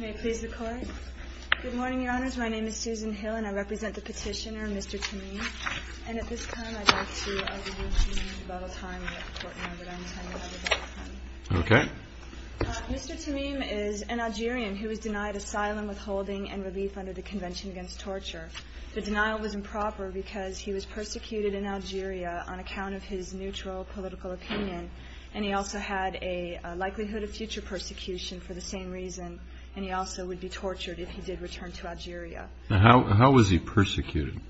Good morning, Your Honors. My name is Susan Hill and I represent the petitioner, Mr. Tamim. And at this time, I'd like to introduce you to the debate time. Mr. Tamim is an Algerian who was denied asylum, withholding, and relief under the Convention Against Torture. The denial was improper because he was persecuted in Algeria on account of his neutral political opinion, and he also had a likelihood of future persecution for the same reason. And he also would be tortured if he did return to Algeria. How was he persecuted?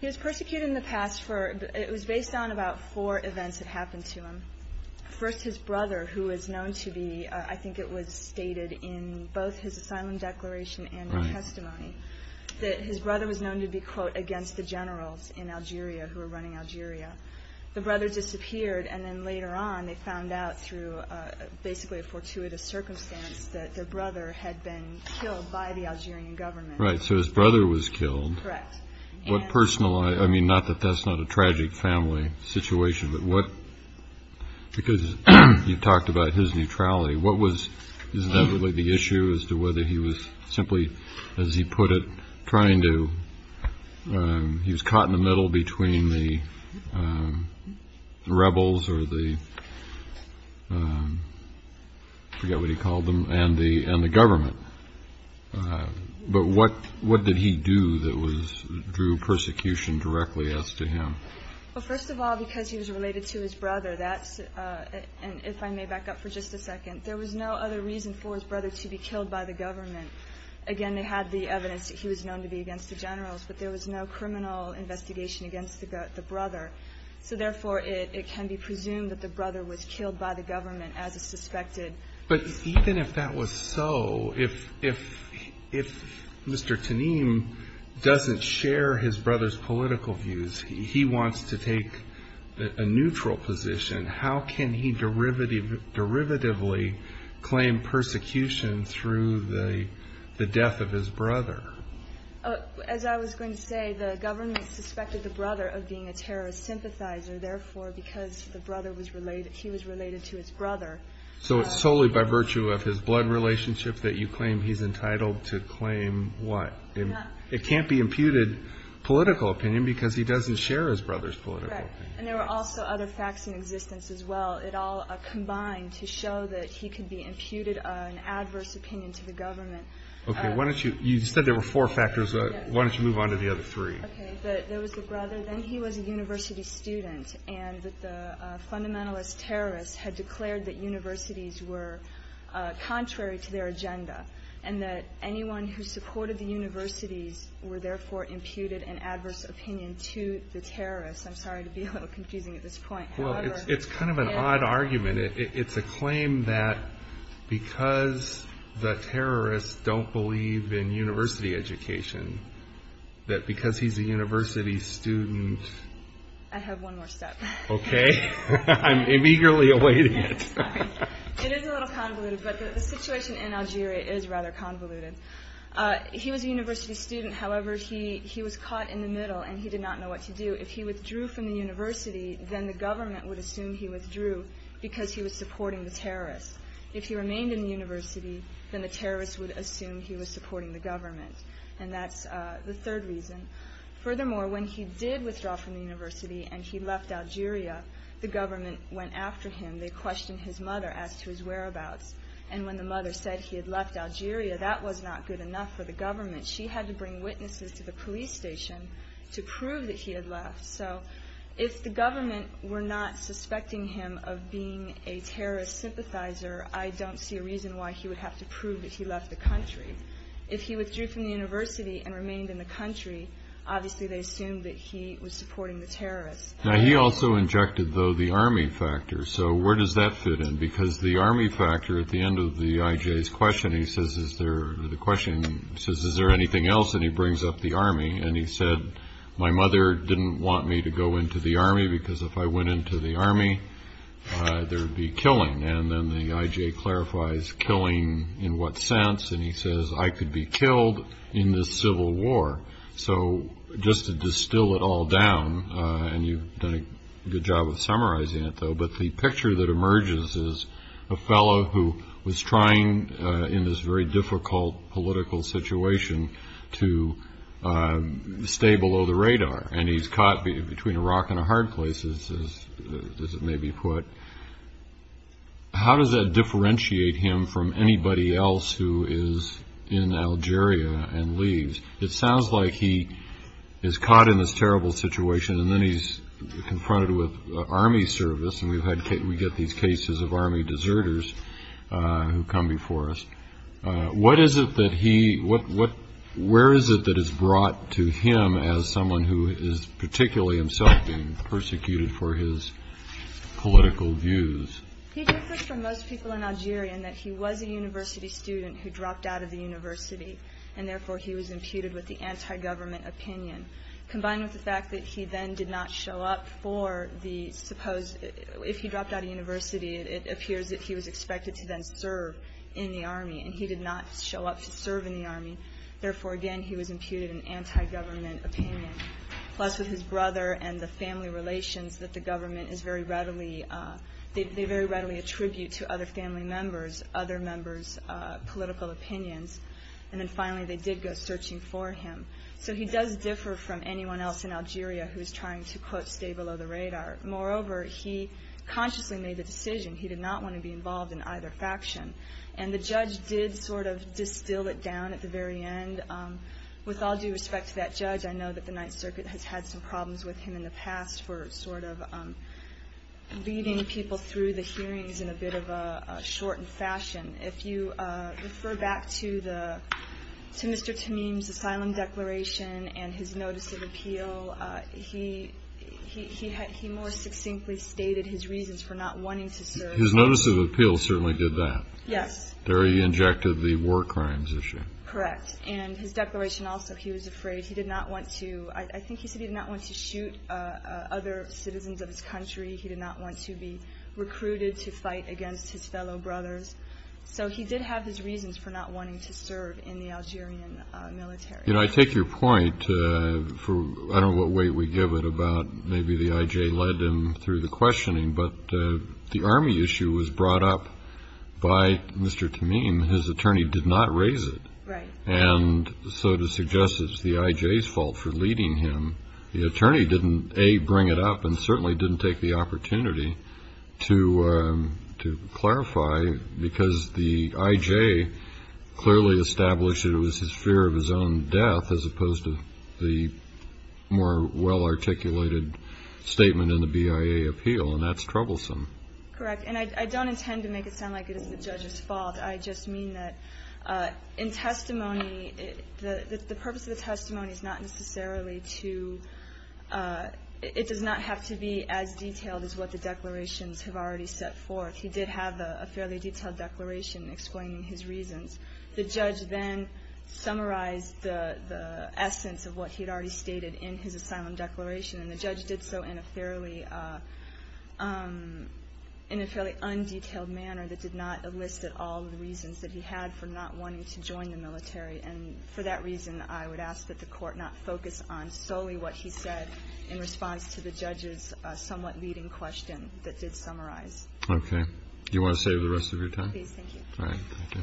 He was persecuted in the past. It was based on about four events that happened to him. First, his brother, who was known to be, I think it was stated in both his asylum declaration and testimony, that his brother was known to be, quote, against the generals in Algeria who were running Algeria. The brother disappeared, and then later on they found out through basically a fortuitous circumstance that their brother had been killed by the Algerian government. Right, so his brother was killed. Correct. What personal—I mean, not that that's not a tragic family situation, but what— because you talked about his neutrality. What was—is that really the issue as to whether he was simply, as he put it, trying to— the rebels or the—I forget what he called them—and the government. But what did he do that drew persecution directly as to him? Well, first of all, because he was related to his brother, that's—and if I may back up for just a second, there was no other reason for his brother to be killed by the government. Again, they had the evidence that he was known to be against the generals, but there was no criminal investigation against the brother. So, therefore, it can be presumed that the brother was killed by the government as is suspected. But even if that was so, if Mr. Tanim doesn't share his brother's political views, he wants to take a neutral position, how can he derivatively claim persecution through the death of his brother? As I was going to say, the government suspected the brother of being a terrorist sympathizer. Therefore, because the brother was related—he was related to his brother— So it's solely by virtue of his blood relationship that you claim he's entitled to claim what? It can't be imputed political opinion because he doesn't share his brother's political opinion. Right. And there were also other facts in existence as well. It all combined to show that he could be imputed an adverse opinion to the government. Okay. Why don't you—you said there were four factors. Why don't you move on to the other three? Okay. There was the brother, then he was a university student, and that the fundamentalist terrorists had declared that universities were contrary to their agenda and that anyone who supported the universities were therefore imputed an adverse opinion to the terrorists. I'm sorry to be a little confusing at this point. Well, it's kind of an odd argument. It's a claim that because the terrorists don't believe in university education, that because he's a university student— I have one more step. Okay. I'm eagerly awaiting it. It is a little convoluted, but the situation in Algeria is rather convoluted. He was a university student. However, he was caught in the middle, and he did not know what to do. If he withdrew from the university, then the government would assume he withdrew because he was supporting the terrorists. If he remained in the university, then the terrorists would assume he was supporting the government. And that's the third reason. Furthermore, when he did withdraw from the university and he left Algeria, the government went after him. They questioned his mother as to his whereabouts. And when the mother said he had left Algeria, that was not good enough for the government. She had to bring witnesses to the police station to prove that he had left. So if the government were not suspecting him of being a terrorist sympathizer, I don't see a reason why he would have to prove that he left the country. If he withdrew from the university and remained in the country, obviously they assumed that he was supporting the terrorists. Now, he also injected, though, the army factor. So where does that fit in? Because the army factor, at the end of the I.J.'s question, he says, is there anything else? And he brings up the army. And he said, my mother didn't want me to go into the army because if I went into the army, there would be killing. And then the I.J. clarifies killing in what sense. And he says, I could be killed in this civil war. So just to distill it all down, and you've done a good job of summarizing it, though, but the picture that emerges is a fellow who was trying in this very difficult political situation to stay below the radar. And he's caught between a rock and a hard place, as it may be put. How does that differentiate him from anybody else who is in Algeria and leaves? It sounds like he is caught in this terrible situation, and then he's confronted with army service, and we get these cases of army deserters who come before us. Where is it that is brought to him as someone who is particularly himself being persecuted for his political views? He differs from most people in Algeria in that he was a university student who dropped out of the university, and therefore he was imputed with the anti-government opinion. Combined with the fact that he then did not show up for the supposed – if he dropped out of university, it appears that he was expected to then serve in the army, and he did not show up to serve in the army. Therefore, again, he was imputed an anti-government opinion. Plus, with his brother and the family relations that the government is very readily – they very readily attribute to other family members, other members' political opinions. And then finally, they did go searching for him. So he does differ from anyone else in Algeria who is trying to, quote, stay below the radar. Moreover, he consciously made the decision. He did not want to be involved in either faction. And the judge did sort of distill it down at the very end. With all due respect to that judge, I know that the Ninth Circuit has had some problems with him in the past for sort of leading people through the hearings in a bit of a shortened fashion. If you refer back to Mr. Tamim's asylum declaration and his notice of appeal, he more succinctly stated his reasons for not wanting to serve. His notice of appeal certainly did that. Yes. There he injected the war crimes issue. Correct. And his declaration also, he was afraid. He did not want to – I think he said he did not want to shoot other citizens of his country. He did not want to be recruited to fight against his fellow brothers. So he did have his reasons for not wanting to serve in the Algerian military. You know, I take your point for I don't know what way we give it about maybe the I.J. led him through the questioning, but the army issue was brought up by Mr. Tamim. His attorney did not raise it. Right. And so to suggest it's the I.J.'s fault for leading him, the attorney didn't, A, bring it up and certainly didn't take the opportunity to clarify because the I.J. clearly established it was his fear of his own death as opposed to the more well-articulated statement in the BIA appeal, and that's troublesome. Correct. And I don't intend to make it sound like it is the judge's fault. I just mean that in testimony, the purpose of the testimony is not necessarily to – it does not have to be as detailed as what the declarations have already set forth. He did have a fairly detailed declaration explaining his reasons. The judge then summarized the essence of what he had already stated in his asylum declaration, and the judge did so in a fairly undetailed manner that did not elicit all the reasons that he had for not wanting to join the military. And for that reason, I would ask that the Court not focus on solely what he said in response to the judge's somewhat leading question that did summarize. Okay. Do you want to save the rest of your time? Please. Thank you. All right. Thank you.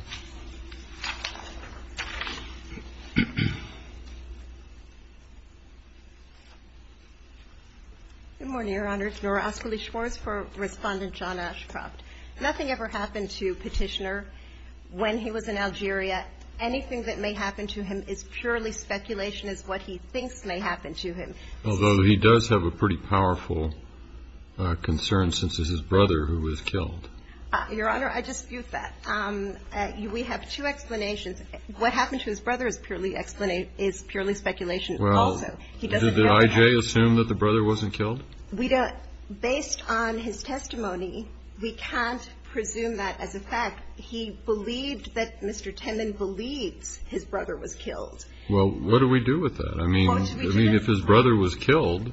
Good morning, Your Honor. Nora Ascoli Schwarz for Respondent John Ashcroft. Nothing ever happened to Petitioner when he was in Algeria. Anything that may happen to him is purely speculation as what he thinks may happen to him. Although he does have a pretty powerful concern, since it's his brother who was killed. Your Honor, I dispute that. We have two explanations. What happened to his brother is purely speculation also. Did I.J. assume that the brother wasn't killed? Based on his testimony, we can't presume that as a fact. He believed that Mr. Timmon believes his brother was killed. Well, what do we do with that? I mean, if his brother was killed,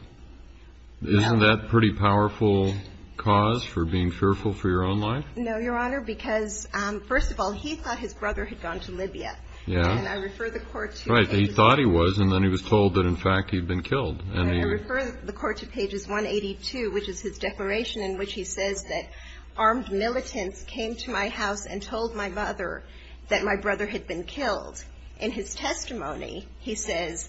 isn't that a pretty powerful cause for being fearful for your own life? No, Your Honor, because first of all, he thought his brother had gone to Libya. Yeah. And I refer the court to. Right. He thought he was, and then he was told that, in fact, he'd been killed. And he. I refer the court to pages 182, which is his declaration in which he says that armed militants came to my house and told my mother that my brother had been killed. In his testimony, he says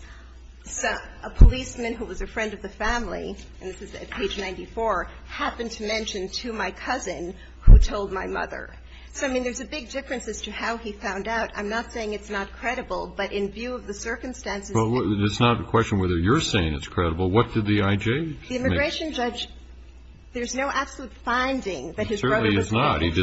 a policeman who was a friend of the family, and this is at page 94, happened to mention to my cousin who told my mother. So, I mean, there's a big difference as to how he found out. I'm not saying it's not credible, but in view of the circumstances. Well, it's not a question whether you're saying it's credible. What did the I.J. make? The immigration judge, there's no absolute finding that his brother was killed. There certainly is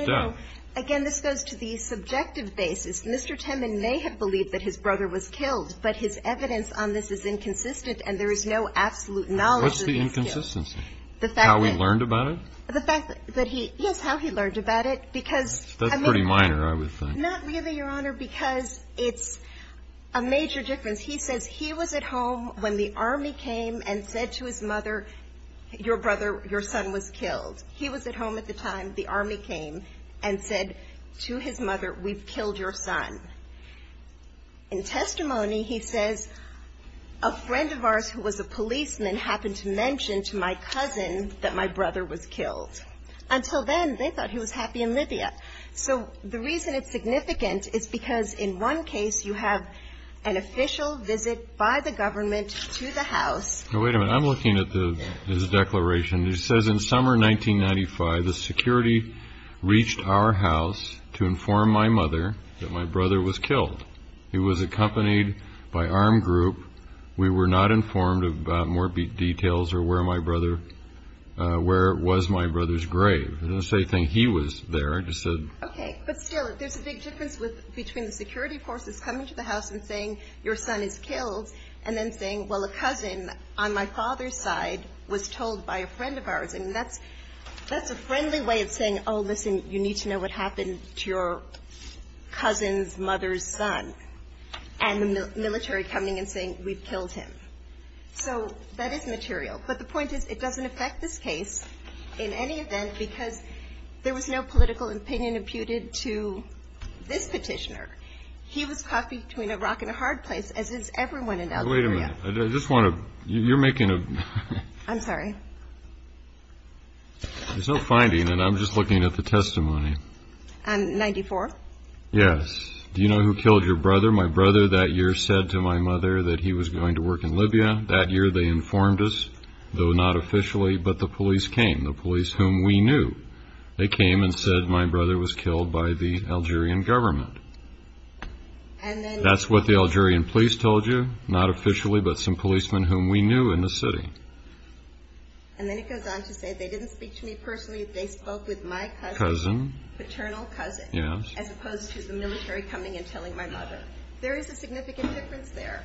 not. No. Again, this goes to the subjective basis. Mr. Temin may have believed that his brother was killed, but his evidence on this is inconsistent, and there is no absolute knowledge that he was killed. What's the inconsistency? The fact that. How he learned about it? The fact that he. Yes, how he learned about it. Because. That's pretty minor, I would think. Not really, Your Honor, because it's a major difference. He says he was at home when the army came and said to his mother, your brother, your son was killed. He was at home at the time the army came and said to his mother, we've killed your son. In testimony, he says, a friend of ours who was a policeman happened to mention to my cousin that my brother was killed. Until then, they thought he was happy in Libya. So the reason it's significant is because in one case you have an official visit by the government to the house. Wait a minute. I'm looking at his declaration. It says in summer 1995, the security reached our house to inform my mother that my brother was killed. He was accompanied by armed group. We were not informed about more details or where my brother, where was my brother's grave. It doesn't say anything. He was there. I just said. Okay. But still, there's a big difference between the security forces coming to the house and saying your son is killed and then saying, well, a cousin on my father's side was told by a friend of ours. And that's a friendly way of saying, oh, listen, you need to know what happened to your cousin's mother's son. And the military coming and saying, we've killed him. So that is material. But the point is, it doesn't affect this case in any event because there was no political opinion imputed to this Petitioner. He was caught between a rock and a hard place, as is everyone in Algeria. Wait a minute. I just want to. You're making a. I'm sorry. There's no finding, and I'm just looking at the testimony. And 94. Yes. Do you know who killed your brother? My brother that year said to my mother that he was going to work in Libya. That year they informed us, though not officially, but the police came, the police whom we knew. They came and said my brother was killed by the Algerian government. And that's what the Algerian police told you, not officially, but some policemen whom we knew in the city. And then it goes on to say they didn't speak to me personally. They spoke with my cousin, paternal cousin, as opposed to the military coming and telling my mother. There is a significant difference there.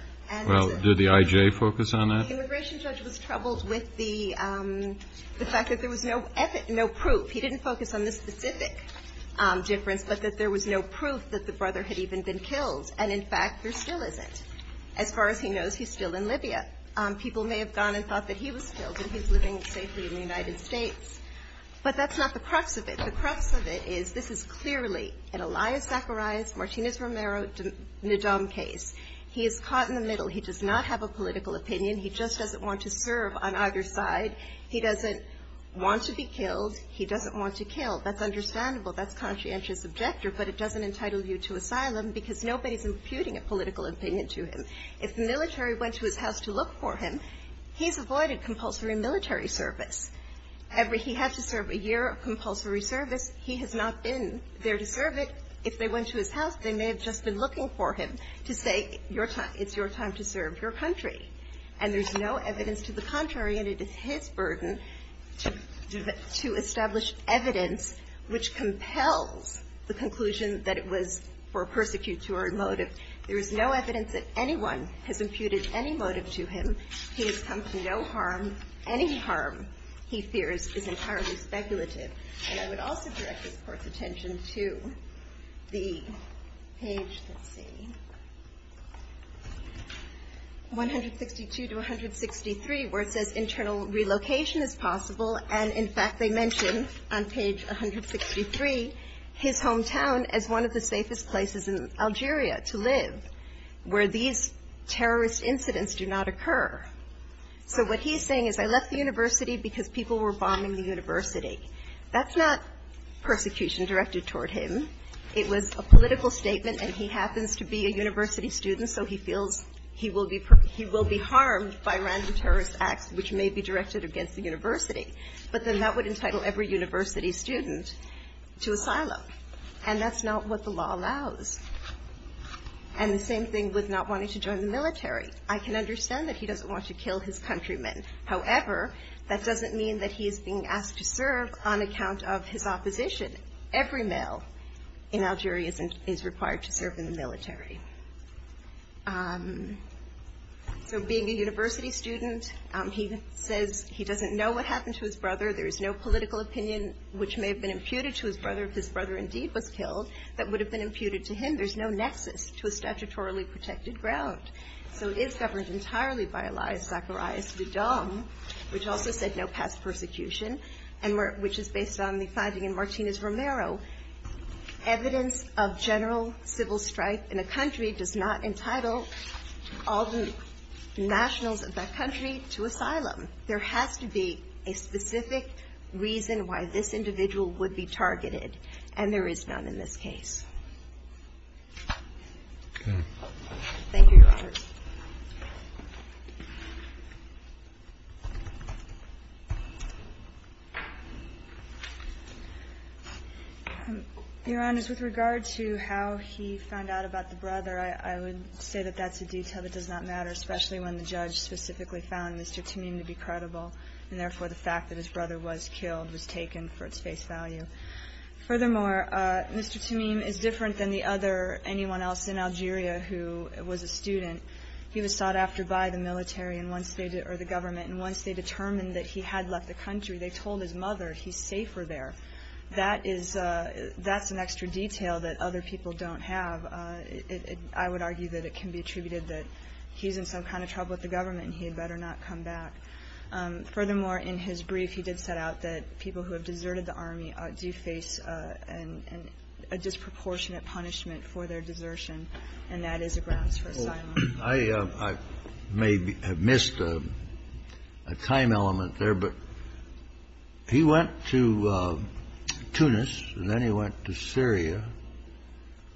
Well, did the IJ focus on that? The immigration judge was troubled with the fact that there was no ethic, no proof. He didn't focus on the specific difference, but that there was no proof that the brother had even been killed. And, in fact, there still isn't. As far as he knows, he's still in Libya. People may have gone and thought that he was killed and he's living safely in the United States. But that's not the crux of it. The crux of it is this is clearly an Elias Zacharias, Martinez Romero, Ndom case. He is caught in the middle. He does not have a political opinion. He just doesn't want to serve on either side. He doesn't want to be killed. He doesn't want to kill. That's understandable. That's conscientious objector. But it doesn't entitle you to asylum because nobody is imputing a political opinion to him. If the military went to his house to look for him, he's avoided compulsory military service. He has to serve a year of compulsory service. He has not been there to serve it. If they went to his house, they may have just been looking for him to say it's your time to serve your country. And there's no evidence to the contrary, and it is his burden to establish evidence which compels the conclusion that it was for a persecutory motive. There is no evidence that anyone has imputed any motive to him. He has come to no harm. Any harm, he fears, is entirely speculative. And I would also direct this Court's attention to the page, let's see, 162 to 163, where it says internal relocation is possible. And, in fact, they mention on page 163 his hometown as one of the safest places in Algeria to live, where these terrorist incidents do not occur. So what he's saying is I left the university because people were bombing the university. That's not persecution directed toward him. It was a political statement, and he happens to be a university student, so he feels he will be harmed by random terrorist acts which may be directed against the university. But then that would entitle every university student to asylum. And that's not what the law allows. And the same thing with not wanting to join the military. I can understand that he doesn't want to kill his countrymen. However, that doesn't mean that he is being asked to serve on account of his opposition. Every male in Algeria is required to serve in the military. So being a university student, he says he doesn't know what happened to his brother. There is no political opinion which may have been imputed to his brother if his brother indeed was killed that would have been imputed to him. There's no nexus to a statutorily protected ground. So it is governed entirely by Elias Zacharias Vidal, which also said no past persecution, which is based on the finding in Martinez-Romero. Evidence of general civil strife in a country does not entitle all the nationals of that country to asylum. There has to be a specific reason why this individual would be targeted, and there is none in this case. Thank you, Your Honors. Your Honors, with regard to how he found out about the brother, I would say that that's a detail that does not matter, especially when the judge specifically found Mr. Tameem to be credible, and therefore the fact that his brother was killed was taken for its face value. Furthermore, Mr. Tameem is different than anyone else in Algeria who was a student. He was sought after by the government, and once they determined that he had left the country, they told his mother he's safer there. That's an extra detail that other people don't have. I would argue that it can be attributed that he's in some kind of trouble with the government and he had better not come back. Furthermore, in his brief, he did set out that people who have deserted the army do face a disproportionate punishment for their desertion, and that is a grounds for asylum. I may have missed a time element there, but he went to Tunis and then he went to Syria.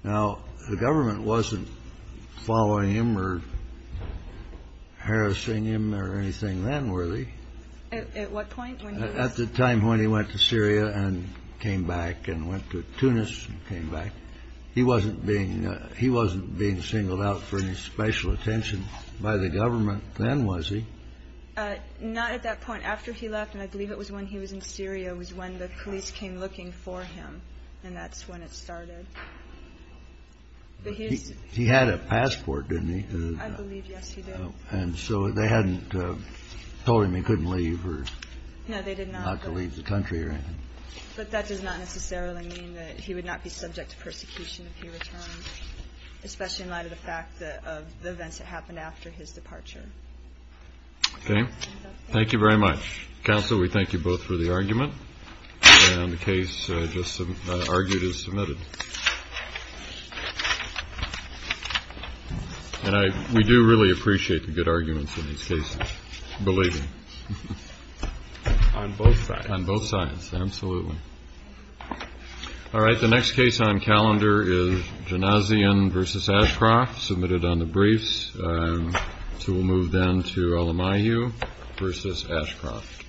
Now, the government wasn't following him or harassing him or anything then, were they? At what point? At the time when he went to Syria and came back and went to Tunis and came back. He wasn't being singled out for any special attention by the government then, was he? Not at that point. After he left, and I believe it was when he was in Syria, was when the police came looking for him, and that's when it started. He had a passport, didn't he? I believe, yes, he did. And so they hadn't told him he couldn't leave or not to leave the country or anything? But that does not necessarily mean that he would not be subject to persecution if he returned, especially in light of the fact of the events that happened after his departure. Okay. Thank you very much. Counsel, we thank you both for the argument, and the case just argued is submitted. And we do really appreciate the good arguments in these cases, believe me. On both sides. On both sides, absolutely. All right, the next case on calendar is Janazian v. Ashcroft, submitted on the briefs. So we'll move then to Alamayu v. Ashcroft.